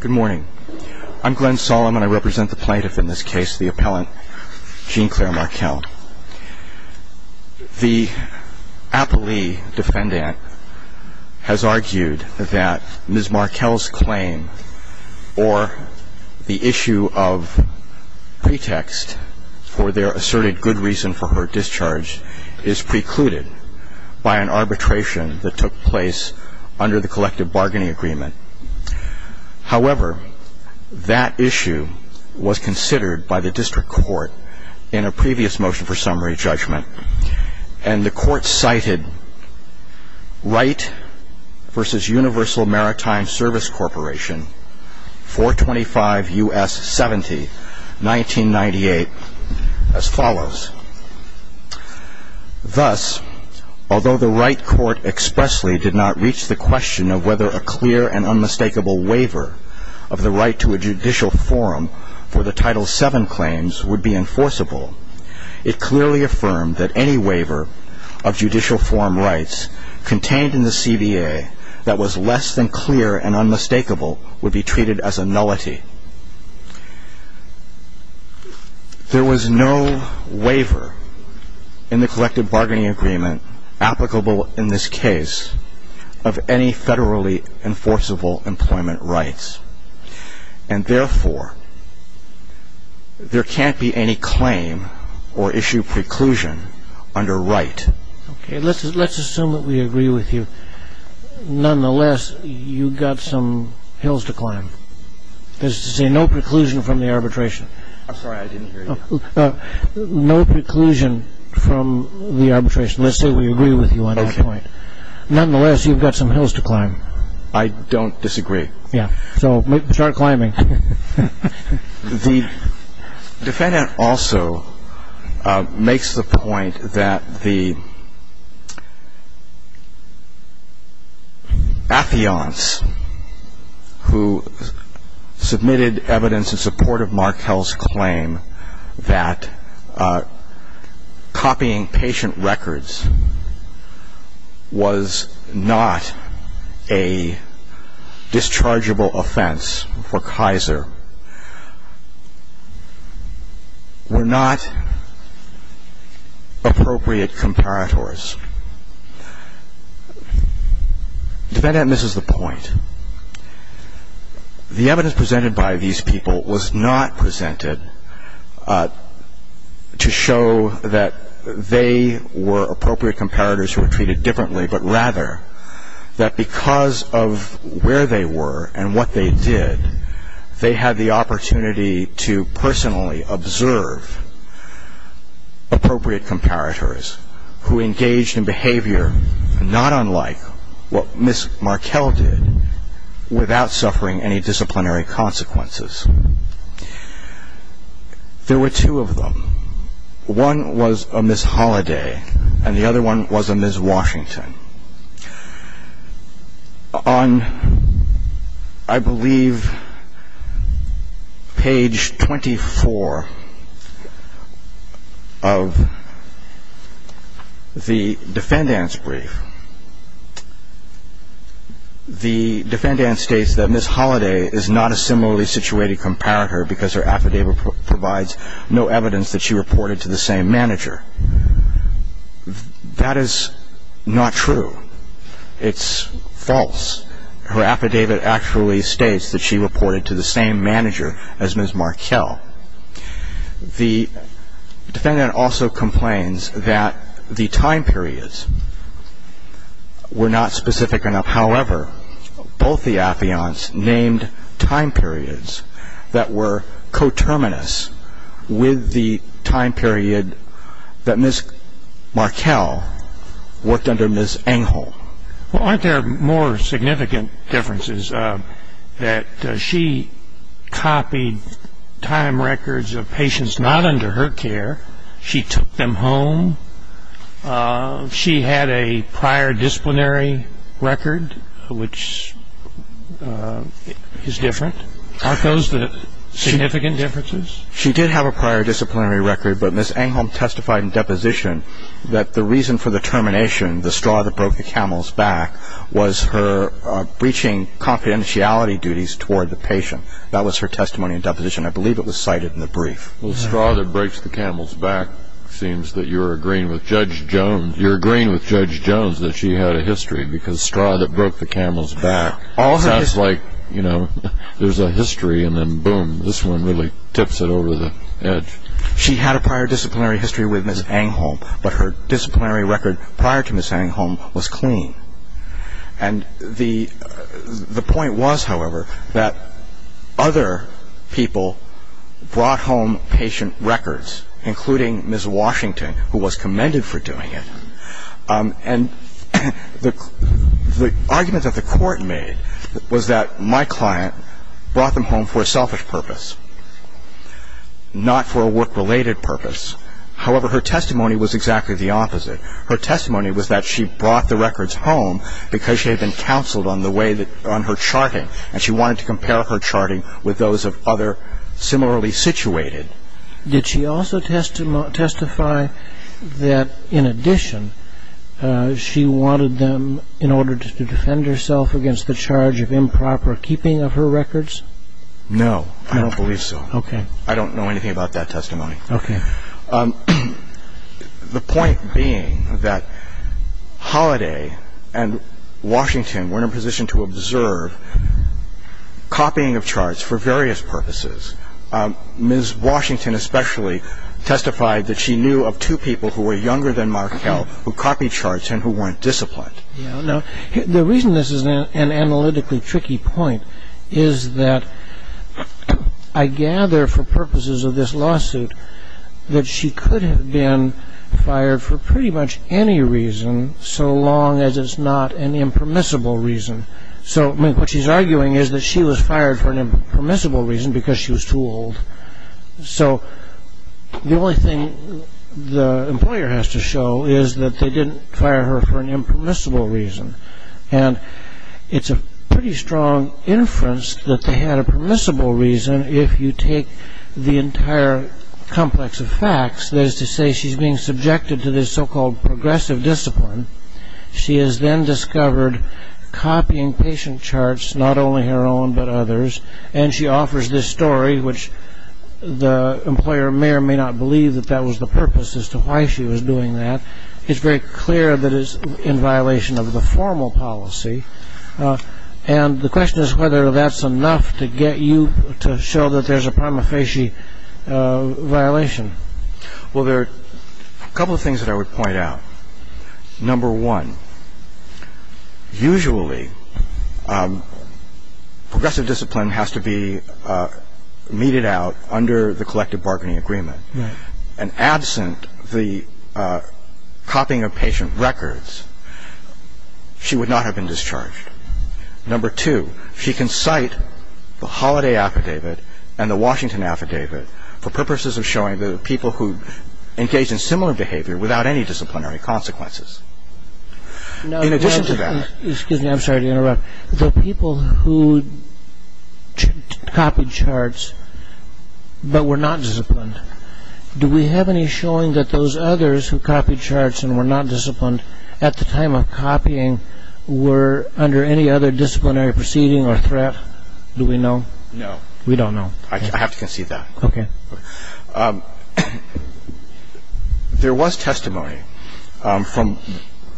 Good morning. I'm Glenn Sollum and I represent the plaintiff in this case, the appellant, Jean Claire Markell. The Appley defendant has argued that Ms. Markell's claim or the issue of pretext for their asserted good reason for her discharge is precluded by an arbitration that took place under the collective bargaining agreement. However, that issue was considered by the district court in a previous motion for summary judgment, and the court cited Wright v. Universal Maritime Service Corporation, 425 U.S. 70, 1998, as follows. Thus, although the Wright court expressly did not reach the question of whether a clear and unmistakable waiver of the right to a judicial forum for the Title VII claims would be enforceable, it clearly affirmed that any waiver of judicial forum rights contained in the CBA that was less than clear and unmistakable would be treated as a nullity. There was no waiver in the collective bargaining agreement applicable in this case of any federally enforceable employment rights. And therefore, there can't be any claim or issue preclusion under Wright. Okay. Let's assume that we agree with you. Nonetheless, you've got some hills to climb. That is to say, no preclusion from the arbitration. I'm sorry. I didn't hear you. No preclusion from the arbitration. Let's say we agree with you on that point. Nonetheless, you've got some hills to climb. I don't disagree. Yeah. So start climbing. The defendant also makes the point that the affiants who submitted evidence in support of Markell's claim that copying patient records was not a dischargeable offense for Kaiser were not appropriate comparators. Defendant, this is the point. The evidence presented by these people was not presented to show that they were appropriate comparators who were treated differently, but rather that because of where they were and what they did, they had the opportunity to personally observe appropriate comparators who engaged in behavior not unlike what Ms. Markell did without suffering any disciplinary consequences. There were two of them. One was a Ms. Holliday, and the other one was a Ms. Washington. On, I believe, page 24 of the defendant's brief, the defendant states that Ms. Holliday is not a similarly situated comparator because her affidavit provides no evidence that she reported to the same manager. That is not true. It's false. Her affidavit actually states that she reported to the same manager as Ms. Markell. The defendant also complains that the time periods were not specific enough. However, both the affiants named time periods that were coterminous with the time period that Ms. Markell worked under Ms. Engel. Well, aren't there more significant differences that she copied time records of patients not under her care? She took them home. She had a prior disciplinary record, which is different. Aren't those the significant differences? She did have a prior disciplinary record, but Ms. Engel testified in deposition that the reason for the termination, the straw that broke the camel's back, was her breaching confidentiality duties toward the patient. That was her testimony in deposition. I believe it was cited in the brief. Well, straw that breaks the camel's back seems that you're agreeing with Judge Jones. You're agreeing with Judge Jones that she had a history because straw that broke the camel's back sounds like, you know, there's a history and then, boom, this one really tips it over the edge. She had a prior disciplinary history with Ms. Engel, but her disciplinary record prior to Ms. Engel was clean. And the point was, however, that other people brought home patient records, including Ms. Washington, who was commended for doing it. And the argument that the Court made was that my client brought them home for a selfish purpose, not for a work-related purpose. However, her testimony was exactly the opposite. Her testimony was that she brought the records home because she had been counseled on her charting, and she wanted to compare her charting with those of other similarly situated. Did she also testify that, in addition, she wanted them in order to defend herself against the charge of improper keeping of her records? No, I don't believe so. Okay. I don't know anything about that testimony. Okay. The point being that Holiday and Washington were in a position to observe copying of charts for various purposes. Ms. Washington especially testified that she knew of two people who were younger than Markell who copied charts and who weren't disciplined. The reason this is an analytically tricky point is that I gather, for purposes of this lawsuit, that she could have been fired for pretty much any reason so long as it's not an impermissible reason. So what she's arguing is that she was fired for an impermissible reason because she was too old. So the only thing the employer has to show is that they didn't fire her for an impermissible reason. And it's a pretty strong inference that they had a permissible reason if you take the entire complex of facts. That is to say, she's being subjected to this so-called progressive discipline. She has then discovered copying patient charts, not only her own but others. And she offers this story, which the employer may or may not believe that that was the purpose as to why she was doing that. It's very clear that it's in violation of the formal policy. And the question is whether that's enough to get you to show that there's a prima facie violation. Well, there are a couple of things that I would point out. Number one, usually progressive discipline has to be meted out under the collective bargaining agreement. And absent the copying of patient records, she would not have been discharged. Number two, she can cite the Holiday Affidavit and the Washington Affidavit for purposes of showing the people who engaged in similar behavior without any disciplinary consequences. In addition to that... Excuse me, I'm sorry to interrupt. The people who copied charts but were not disciplined, do we have any showing that those others who copied charts and were not disciplined at the time of copying were under any other disciplinary proceeding or threat? Do we know? No. We don't know. I have to concede that. Okay. There was testimony from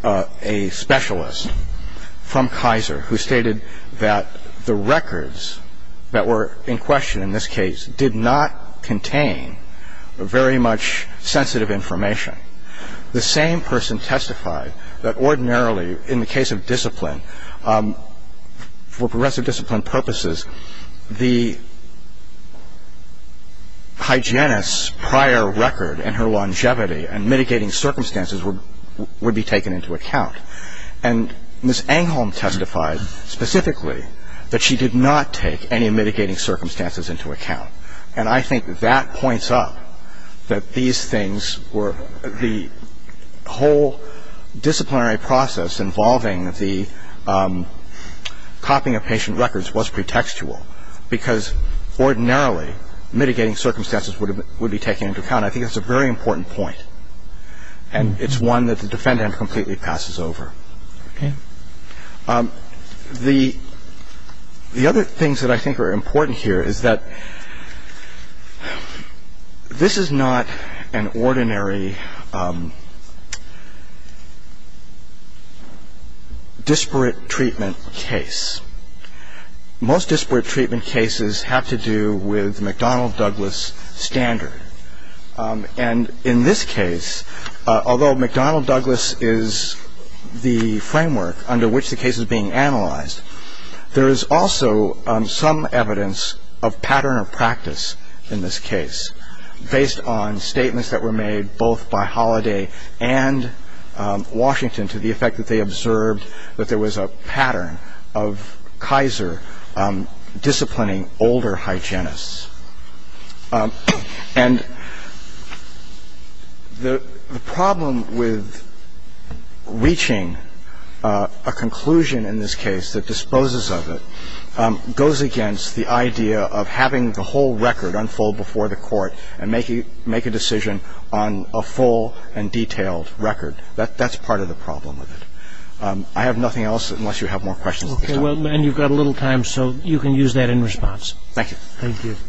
a specialist from Kaiser who stated that the records that were in question in this case did not contain very much sensitive information. The same person testified that ordinarily in the case of discipline, for progressive discipline purposes, the hygienist's prior record and her longevity and mitigating circumstances would be taken into account. And Ms. Angholm testified specifically that she did not take any mitigating circumstances into account. And I think that points up that these things were the whole disciplinary process involving the copying of patient records was pretextual because ordinarily mitigating circumstances would be taken into account. I think that's a very important point. And it's one that the defendant completely passes over. Okay. The other things that I think are important here is that this is not an ordinary disparate treatment case. Most disparate treatment cases have to do with McDonnell-Douglas standard. And in this case, although McDonnell-Douglas is the framework under which the case is being analyzed, there is also some evidence of pattern of practice in this case based on statements that were made both by Holiday and Washington to the effect that they observed that there was a pattern of Kaiser disciplining older hygienists. And the problem with reaching a conclusion in this case that disposes of it goes against the idea of having the whole record unfold before the Court and make a decision on a full and detailed record. That's part of the problem with it. I have nothing else unless you have more questions. Okay. Well, then you've got a little time, so you can use that in response. Thank you. Thank you. Thank you.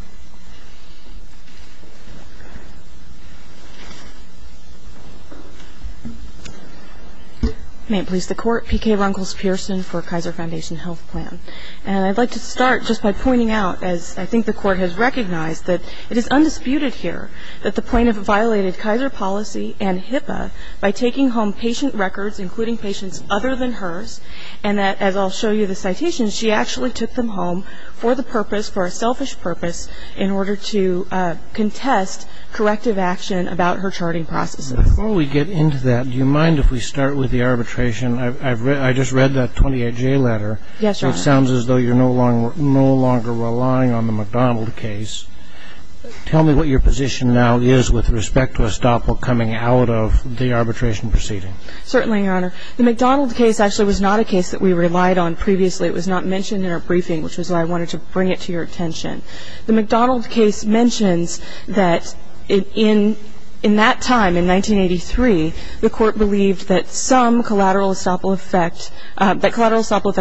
May it please the Court. P.K. Runkles-Pearson for Kaiser Foundation Health Plan. And I'd like to start just by pointing out, as I think the Court has recognized, that it is undisputed here that the plaintiff violated Kaiser policy and HIPAA by taking home patient records, including patients other than hers, and that, as I'll show you the citations, she actually took them home for the purpose, for a selfish purpose, in order to contest corrective action about her charting processes. Before we get into that, do you mind if we start with the arbitration? I just read that 28J letter. Yes, Your Honor. It sounds as though you're no longer relying on the McDonald case. Tell me what your position now is with respect to a stopbook coming out of the arbitration proceeding. Certainly, Your Honor. The McDonald case actually was not a case that we relied on previously. It was not mentioned in our briefing, which is why I wanted to bring it to your attention. The McDonald case mentions that in that time, in 1983, the Court believed that some collateral estoppel effect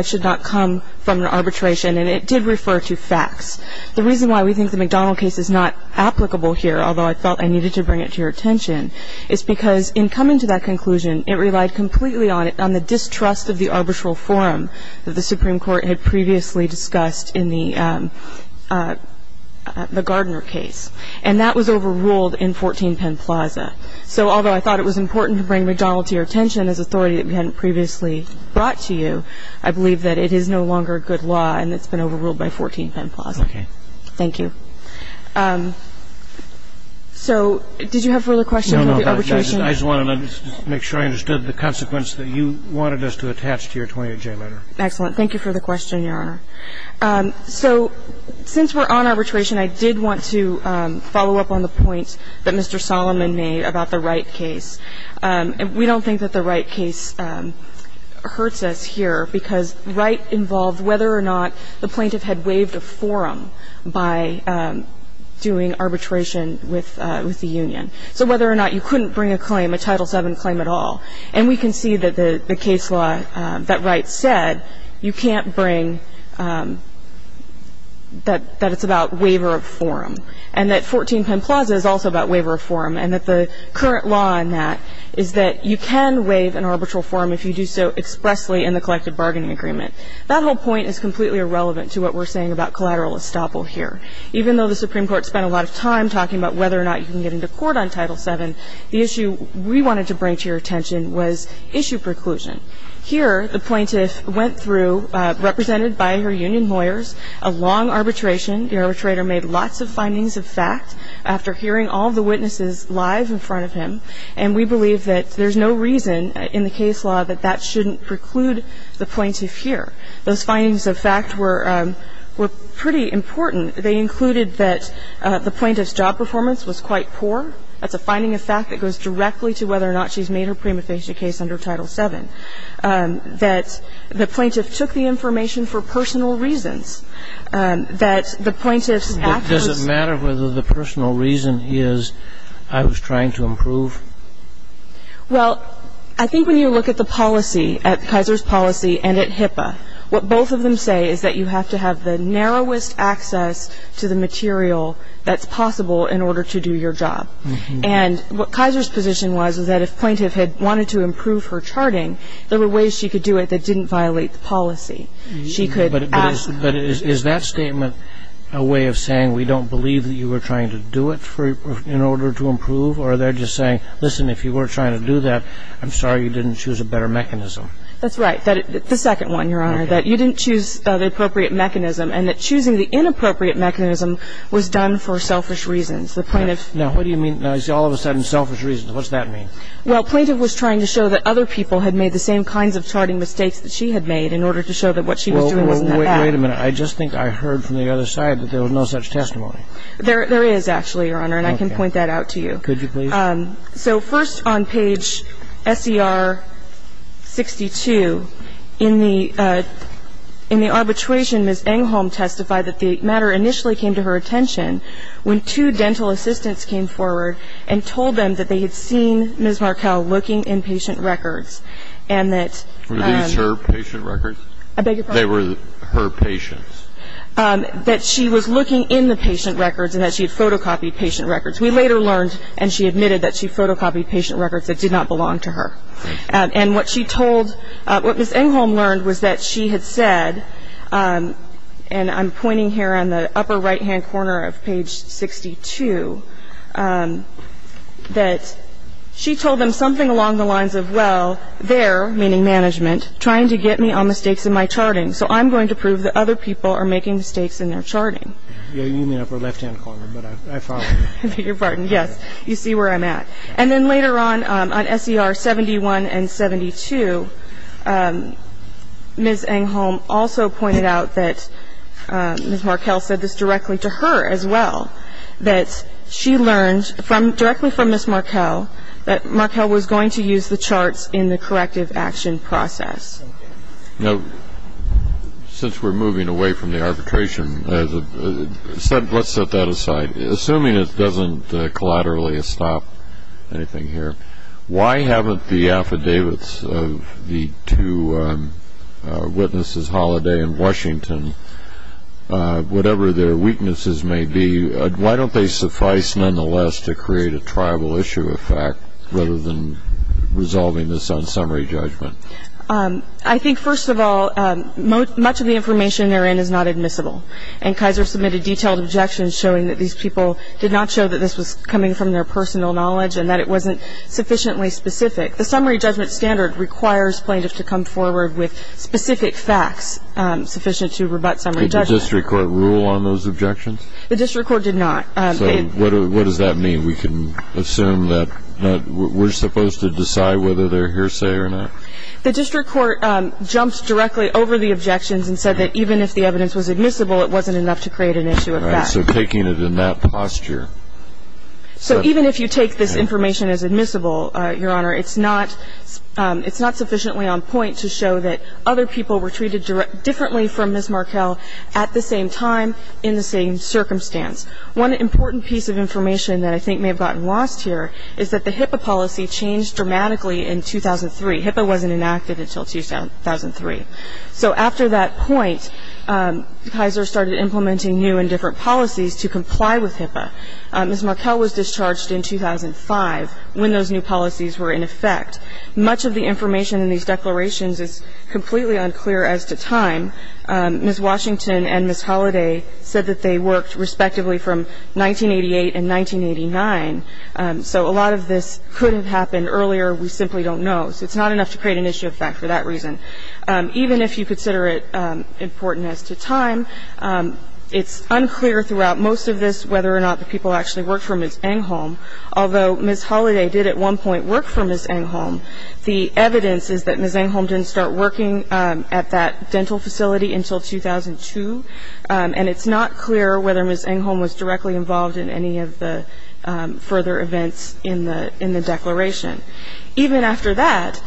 should not come from an arbitration, and it did refer to facts. The reason why we think the McDonald case is not applicable here, although I felt I needed to bring it to your attention, is because in coming to that conclusion, it relied completely on the distrust of the arbitral forum that the Supreme Court had previously discussed in the Gardner case, and that was overruled in 14 Penn Plaza. So although I thought it was important to bring McDonald to your attention as authority that we hadn't previously brought to you, I believe that it is no longer a good law and it's been overruled by 14 Penn Plaza. Okay. Thank you. So did you have further questions about the arbitration? No, no. I just wanted to make sure I understood the consequence that you wanted us to attach to your 28-J letter. Excellent. Thank you for the question, Your Honor. So since we're on arbitration, I did want to follow up on the point that Mr. Solomon made about the Wright case. We don't think that the Wright case hurts us here because Wright involved whether or not the plaintiff had waived a forum by doing arbitration with the union, so whether or not you couldn't bring a claim, a Title VII claim at all. And we can see that the case law that Wright said, you can't bring that it's about waiver of forum, and that 14 Penn Plaza is also about waiver of forum, and that the current law on that is that you can waive an arbitral forum if you do so expressly in the collective bargaining agreement. That whole point is completely irrelevant to what we're saying about collateral estoppel here. Even though the Supreme Court spent a lot of time talking about whether or not you can get into court on Title VII, the issue we wanted to bring to your attention was issue preclusion. Here the plaintiff went through, represented by her union lawyers, a long arbitration. The arbitrator made lots of findings of fact after hearing all the witnesses live in front of him, and we believe that there's no reason in the case law that that shouldn't preclude the plaintiff here. Those findings of fact were pretty important. They included that the plaintiff's job performance was quite poor. That's a finding of fact that goes directly to whether or not she's made her prima facie case under Title VII. That the plaintiff took the information for personal reasons. That the plaintiff's actions ---- Well, I think when you look at the policy, at Kaiser's policy and at HIPAA, what both of them say is that you have to have the narrowest access to the material that's possible in order to do your job. And what Kaiser's position was is that if plaintiff had wanted to improve her charting, there were ways she could do it that didn't violate the policy. She could ask ---- But is that statement a way of saying we don't believe that you were trying to do it in order to improve? Or they're just saying, listen, if you were trying to do that, I'm sorry you didn't choose a better mechanism. That's right. The second one, Your Honor, that you didn't choose the appropriate mechanism and that choosing the inappropriate mechanism was done for selfish reasons. The plaintiff ---- Now, what do you mean? Now, I see all of a sudden selfish reasons. What's that mean? Well, plaintiff was trying to show that other people had made the same kinds of charting mistakes that she had made in order to show that what she was doing wasn't that bad. Well, wait a minute. I just think I heard from the other side that there was no such testimony. There is actually, Your Honor, and I can point that out to you. Could you, please? So first on page SER 62, in the arbitration, Ms. Engholm testified that the matter initially came to her attention when two dental assistants came forward and told them that they had seen Ms. Markell looking in patient records and that ---- Were these her patient records? I beg your pardon? They were her patients. That she was looking in the patient records and that she had photocopied patient records. We later learned, and she admitted, that she photocopied patient records that did not belong to her. And what she told ---- what Ms. Engholm learned was that she had said, and I'm pointing here on the upper right-hand corner of page 62, that she told them something along the lines of, well, they're, meaning management, trying to get me on the stakes in my charting, so I'm going to prove that other people are making mistakes in their charting. You mean upper left-hand corner, but I follow you. I beg your pardon, yes. You see where I'm at. And then later on, on SER 71 and 72, Ms. Engholm also pointed out that Ms. Markell said this directly to her as well, that she learned directly from Ms. Markell that Markell was going to use the charts in the corrective action process. Now, since we're moving away from the arbitration, let's set that aside. Assuming it doesn't collaterally stop anything here, why haven't the affidavits of the two witnesses, Holliday and Washington, whatever their weaknesses may be, why don't they suffice nonetheless to create a triable issue of fact rather than resolving this on summary judgment? I think, first of all, much of the information they're in is not admissible, and Kaiser submitted detailed objections showing that these people did not show that this was coming from their personal knowledge and that it wasn't sufficiently specific. The summary judgment standard requires plaintiffs to come forward with specific facts sufficient to rebut summary judgment. Did the district court rule on those objections? The district court did not. So what does that mean? We can assume that we're supposed to decide whether they're hearsay or not? The district court jumped directly over the objections and said that even if the evidence was admissible, it wasn't enough to create an issue of fact. All right, so taking it in that posture. So even if you take this information as admissible, Your Honor, it's not sufficiently on point to show that other people were treated differently from Ms. Markell at the same time, in the same circumstance. One important piece of information that I think may have gotten lost here is that the HIPAA policy changed dramatically in 2003. HIPAA wasn't enacted until 2003. So after that point, Kaiser started implementing new and different policies to comply with HIPAA. Ms. Markell was discharged in 2005 when those new policies were in effect. Much of the information in these declarations is completely unclear as to time. Ms. Washington and Ms. Holliday said that they worked respectively from 1988 and 1989. So a lot of this could have happened earlier. We simply don't know. So it's not enough to create an issue of fact for that reason. Even if you consider it important as to time, it's unclear throughout most of this whether or not the people actually worked for Ms. Engholm. Although Ms. Holliday did at one point work for Ms. Engholm, the evidence is that Ms. Engholm didn't start working at that dental facility until 2002, and it's not clear whether Ms. Engholm was directly involved in any of the further events in the declaration. Even after that,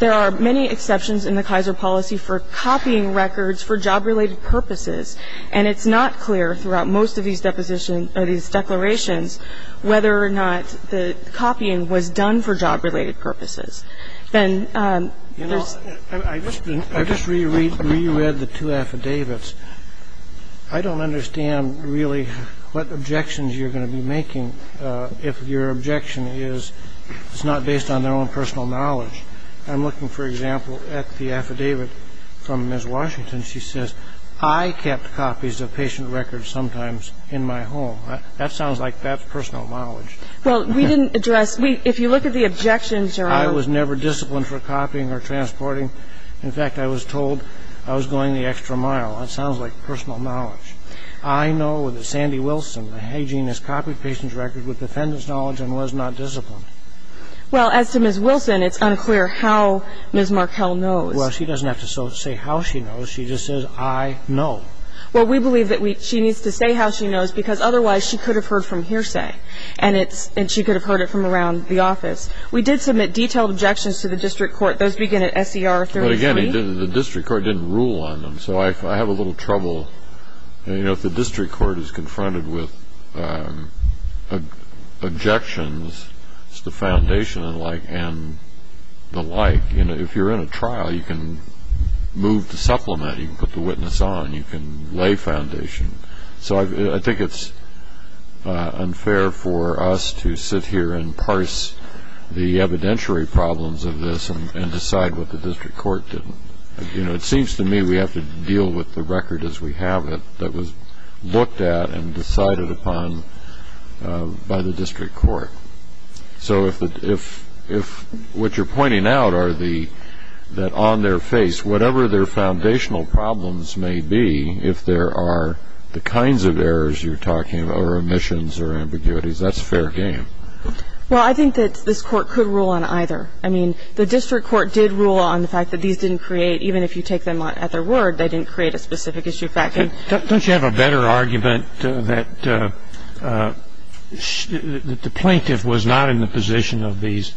there are many exceptions in the Kaiser policy for copying records for job-related purposes, and it's not clear throughout most of these declarations whether or not the copying was done for job-related purposes. I just reread the two affidavits. I don't understand really what objections you're going to be making if your objection is it's not based on their own personal knowledge. I'm looking, for example, at the affidavit from Ms. Washington. She says, I kept copies of patient records sometimes in my home. That sounds like personal knowledge. Well, we didn't address ñ if you look at the objections, Your Honor ñ I was never disciplined for copying or transporting. In fact, I was told I was going the extra mile. That sounds like personal knowledge. I know that Sandy Wilson, the hygienist, copied patient records with defendant's knowledge and was not disciplined. Well, as to Ms. Wilson, it's unclear how Ms. Markell knows. Well, she doesn't have to say how she knows. She just says, I know. Well, we believe that she needs to say how she knows because otherwise she could have heard from hearsay, and she could have heard it from around the office. We did submit detailed objections to the district court. Those begin at S.E.R. 33. But again, the district court didn't rule on them, so I have a little trouble. If the district court is confronted with objections, the foundation and the like, if you're in a trial, you can move the supplement, you can put the witness on, you can lay foundation. So I think it's unfair for us to sit here and parse the evidentiary problems of this and decide what the district court did. It seems to me we have to deal with the record as we have it that was looked at and decided upon by the district court. So if what you're pointing out are that on their face, whatever their foundational problems may be, if there are the kinds of errors you're talking about or omissions or ambiguities, that's fair game. Well, I think that this court could rule on either. I mean, the district court did rule on the fact that these didn't create, even if you take them at their word, they didn't create a specific issue factor. Don't you have a better argument that the plaintiff was not in the position of these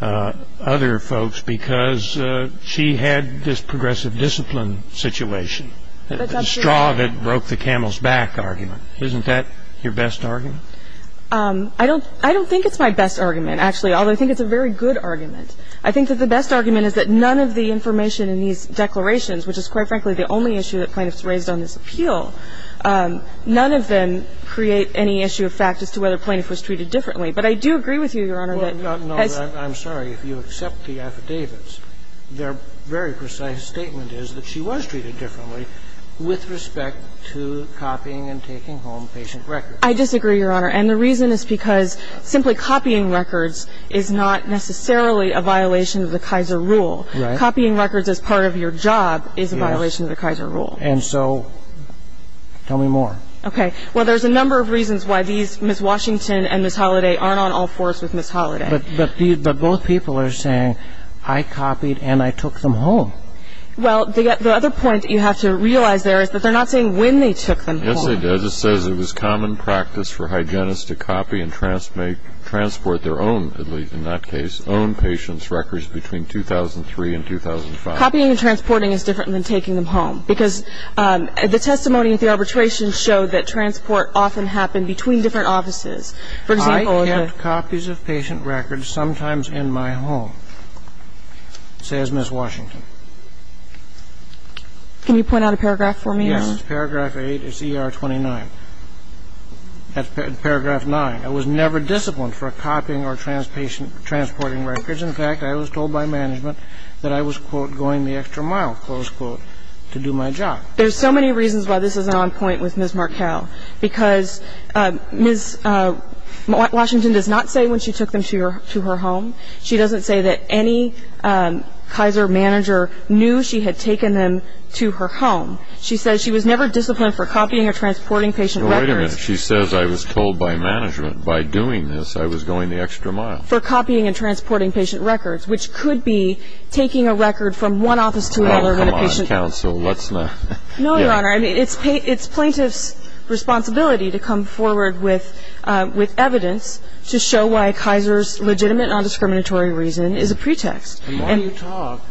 other folks because she had this progressive discipline situation, the straw that broke the camel's back argument? Isn't that your best argument? I don't think it's my best argument, actually, although I think it's a very good argument. I think that the best argument is that none of the information in these declarations, which is, quite frankly, the only issue that plaintiffs raised on this appeal, none of them create any issue of fact as to whether a plaintiff was treated differently. But I do agree with you, Your Honor, that as — Well, no, I'm sorry. If you accept the affidavits, their very precise statement is that she was treated differently with respect to copying and taking home patient records. I disagree, Your Honor. And the reason is because simply copying records is not necessarily a violation of the Kaiser rule. Right. Copying records as part of your job is a violation of the Kaiser rule. Yes. And so tell me more. Okay. Well, there's a number of reasons why these, Ms. Washington and Ms. Holliday, aren't on all fours with Ms. Holliday. But both people are saying, I copied and I took them home. Well, the other point that you have to realize there is that they're not saying when they took them home. Yes, they did. It says it was common practice for hygienists to copy and transport their own, at least in that case, own patients' records between 2003 and 2005. Copying and transporting is different than taking them home because the testimony at the arbitration showed that transport often happened between different offices. For example, the — I kept copies of patient records sometimes in my home, says Ms. Washington. Can you point out a paragraph for me? Yes. It's paragraph 8. It's ER 29. That's paragraph 9. I was never disciplined for copying or transporting records. In fact, I was told by management that I was, quote, going the extra mile, close quote, to do my job. There's so many reasons why this isn't on point with Ms. Markell. Because Ms. Washington does not say when she took them to her home. She doesn't say that any Kaiser manager knew she had taken them to her home. She says she was never disciplined for copying or transporting patient records. Well, wait a minute. She says I was told by management by doing this I was going the extra mile. For copying and transporting patient records, which could be taking a record from one office to another in a patient — Oh, come on, counsel. Let's not — No, Your Honor. I mean, it's plaintiff's responsibility to come forward with evidence to show why Kaiser's legitimate nondiscriminatory reason is a pretext. The more you talk,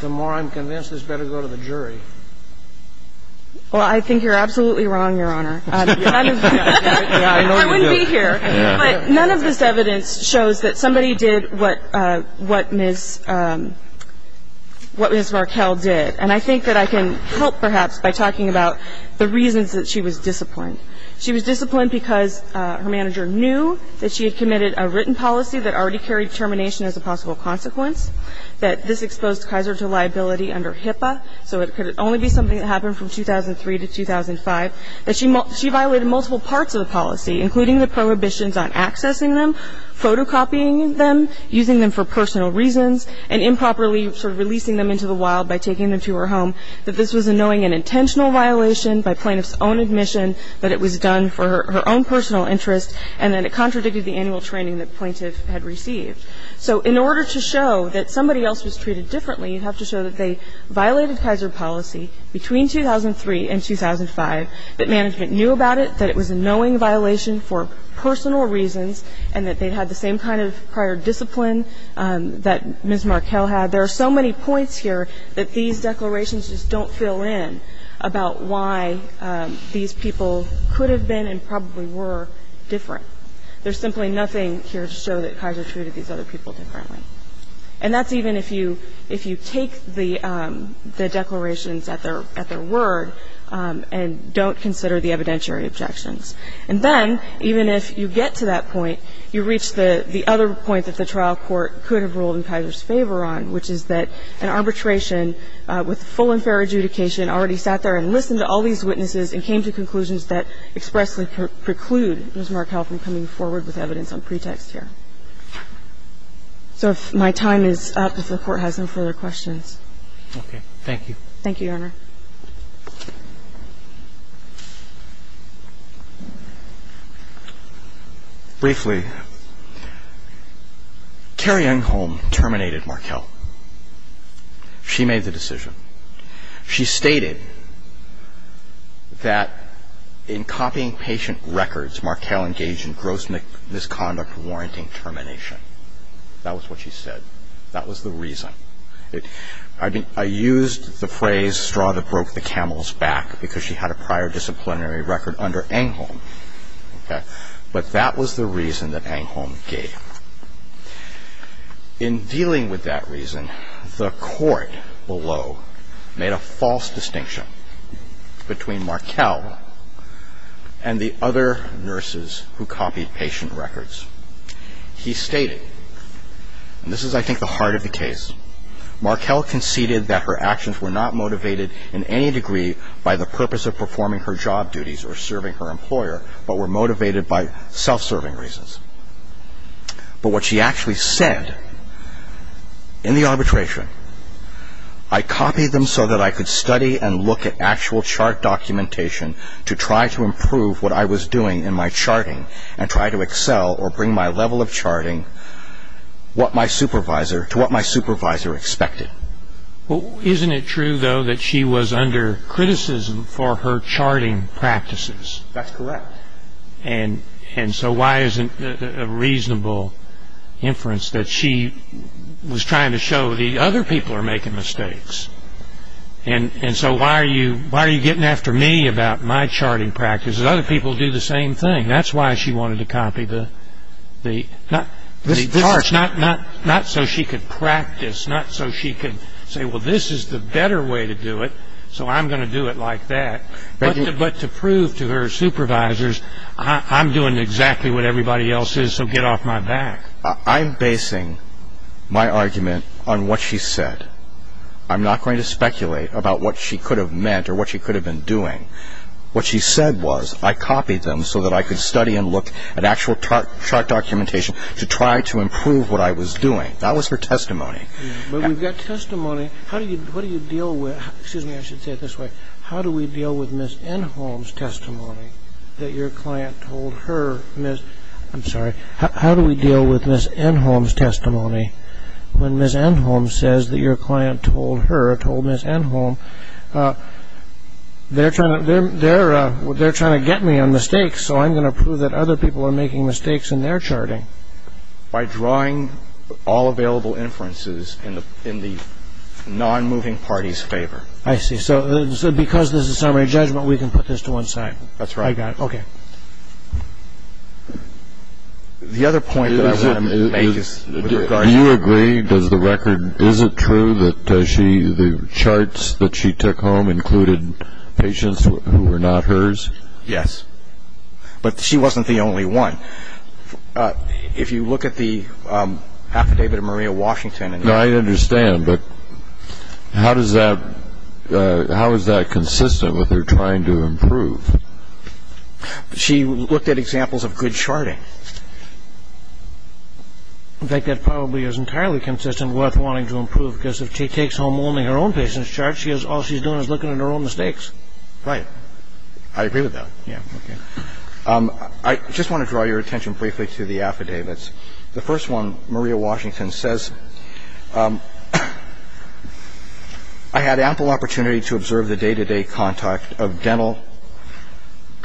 the more I'm convinced this better go to the jury. Well, I think you're absolutely wrong, Your Honor. I wouldn't be here. But none of this evidence shows that somebody did what Ms. Markell did. And I think that I can help, perhaps, by talking about the reasons that she was disciplined. She was disciplined because her manager knew that she had committed a written policy that already carried termination as a possible consequence, that this exposed Kaiser to liability under HIPAA, so it could only be something that happened from 2003 to 2005, that she violated multiple parts of the policy, including the prohibitions on accessing them, photocopying them, using them for personal reasons, and improperly sort of releasing them into the wild by taking them to her home, that this was a knowing and intentional violation by plaintiff's own admission that it was done for her own personal interest, and that it contradicted the annual training that plaintiff had received. So in order to show that somebody else was treated differently, you have to show that they violated Kaiser policy between 2003 and 2005, that management knew about it, that it was a knowing violation for personal reasons, and that they had the same kind of prior discipline that Ms. Markell had. There are so many points here that these declarations just don't fill in about why these people could have been and probably were different. There's simply nothing here to show that Kaiser treated these other people differently. And that's even if you take the declarations at their word and don't consider the evidentiary objections. And then, even if you get to that point, you reach the other point that the trial court could have ruled in Kaiser's favor on, which is that an arbitration with full and fair adjudication already sat there and listened to all these witnesses and came to conclusions that expressly preclude Ms. Markell from coming forward with evidence on pretext here. So if my time is up, if the Court has no further questions. Okay. Thank you. Thank you, Your Honor. Briefly, Carrie Youngholm terminated Markell. She made the decision. She stated that in copying patient records, Markell engaged in gross misconduct warranting termination. That was what she said. That was the reason. I used the phrase, straw that broke the camel's back, because she had a prior disciplinary record under Angholm. But that was the reason that Angholm gave. In dealing with that reason, the Court below made a false distinction between Markell and the other nurses who copied patient records. He stated, and this is, I think, the heart of the case, Markell conceded that her actions were not motivated in any degree by the purpose of performing her job duties or serving her employer, but were motivated by self-serving reasons. But what she actually said in the arbitration, I copied them so that I could study and look at actual chart documentation to try to improve what I was doing in my charting and try to excel or bring my level of charting to what my supervisor expected. Well, isn't it true, though, that she was under criticism for her charting practices? That's correct. And so why isn't a reasonable inference that she was trying to show the other people are making mistakes? And so why are you getting after me about my charting practices? Other people do the same thing. That's why she wanted to copy the charts, not so she could practice, not so she could say, well, this is the better way to do it, so I'm going to do it like that. But to prove to her supervisors, I'm doing exactly what everybody else is, so get off my back. I'm basing my argument on what she said. I'm not going to speculate about what she could have meant or what she could have been doing. What she said was, I copied them so that I could study and look at actual chart documentation to try to improve what I was doing. That was her testimony. But we've got testimony. What do you deal with? Excuse me, I should say it this way. How do we deal with Ms. Enholm's testimony that your client told her, Ms. I'm sorry, how do we deal with Ms. Enholm's testimony when Ms. Enholm says that your client told her, told Ms. Enholm, they're trying to get me on mistakes, so I'm going to prove that other people are making mistakes in their charting? By drawing all available inferences in the non-moving party's favor. I see. So because this is a summary judgment, we can put this to one side. That's right. I got it. Okay. The other point that I want to make is with regard to the record. Do you agree? Is it true that the charts that she took home included patients who were not hers? Yes. But she wasn't the only one. If you look at the affidavit of Maria Washington. No, I understand. But how is that consistent with her trying to improve? She looked at examples of good charting. I think that probably is entirely consistent with wanting to improve, because if she takes home only her own patients' charts, all she's doing is looking at her own mistakes. Right. I agree with that. Yeah. Okay. I just want to draw your attention briefly to the affidavits. The first one, Maria Washington says, I had ample opportunity to observe the day-to-day contact of dental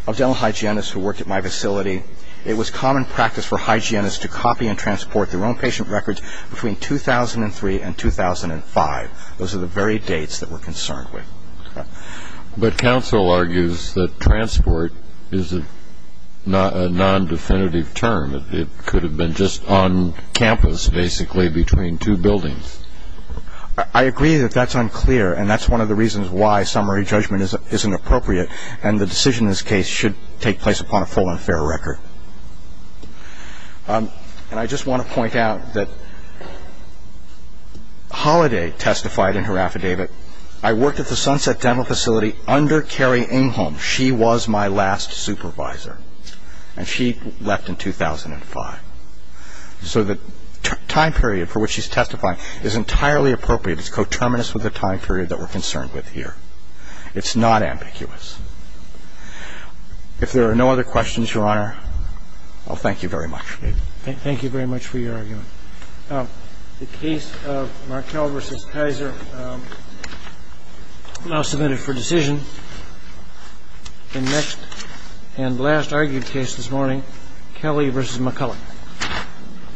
hygienists who worked at my facility. It was common practice for hygienists to copy and transport their own patient records between 2003 and 2005. Those are the very dates that we're concerned with. But counsel argues that transport is a non-definitive term. It could have been just on campus, basically, between two buildings. I agree that that's unclear, and that's one of the reasons why summary judgment isn't appropriate, and the decision in this case should take place upon a full and fair record. And I just want to point out that Holiday testified in her affidavit, I worked at the Sunset Dental Facility under Carrie Ingholm. She was my last supervisor, and she left in 2005. So the time period for which she's testifying is entirely appropriate. It's coterminous with the time period that we're concerned with here. It's not ambiguous. If there are no other questions, Your Honor, I'll thank you very much. Thank you very much for your argument. The case of Markell v. Kaiser now submitted for decision. The next and last argued case this morning, Kelly v. McCullough.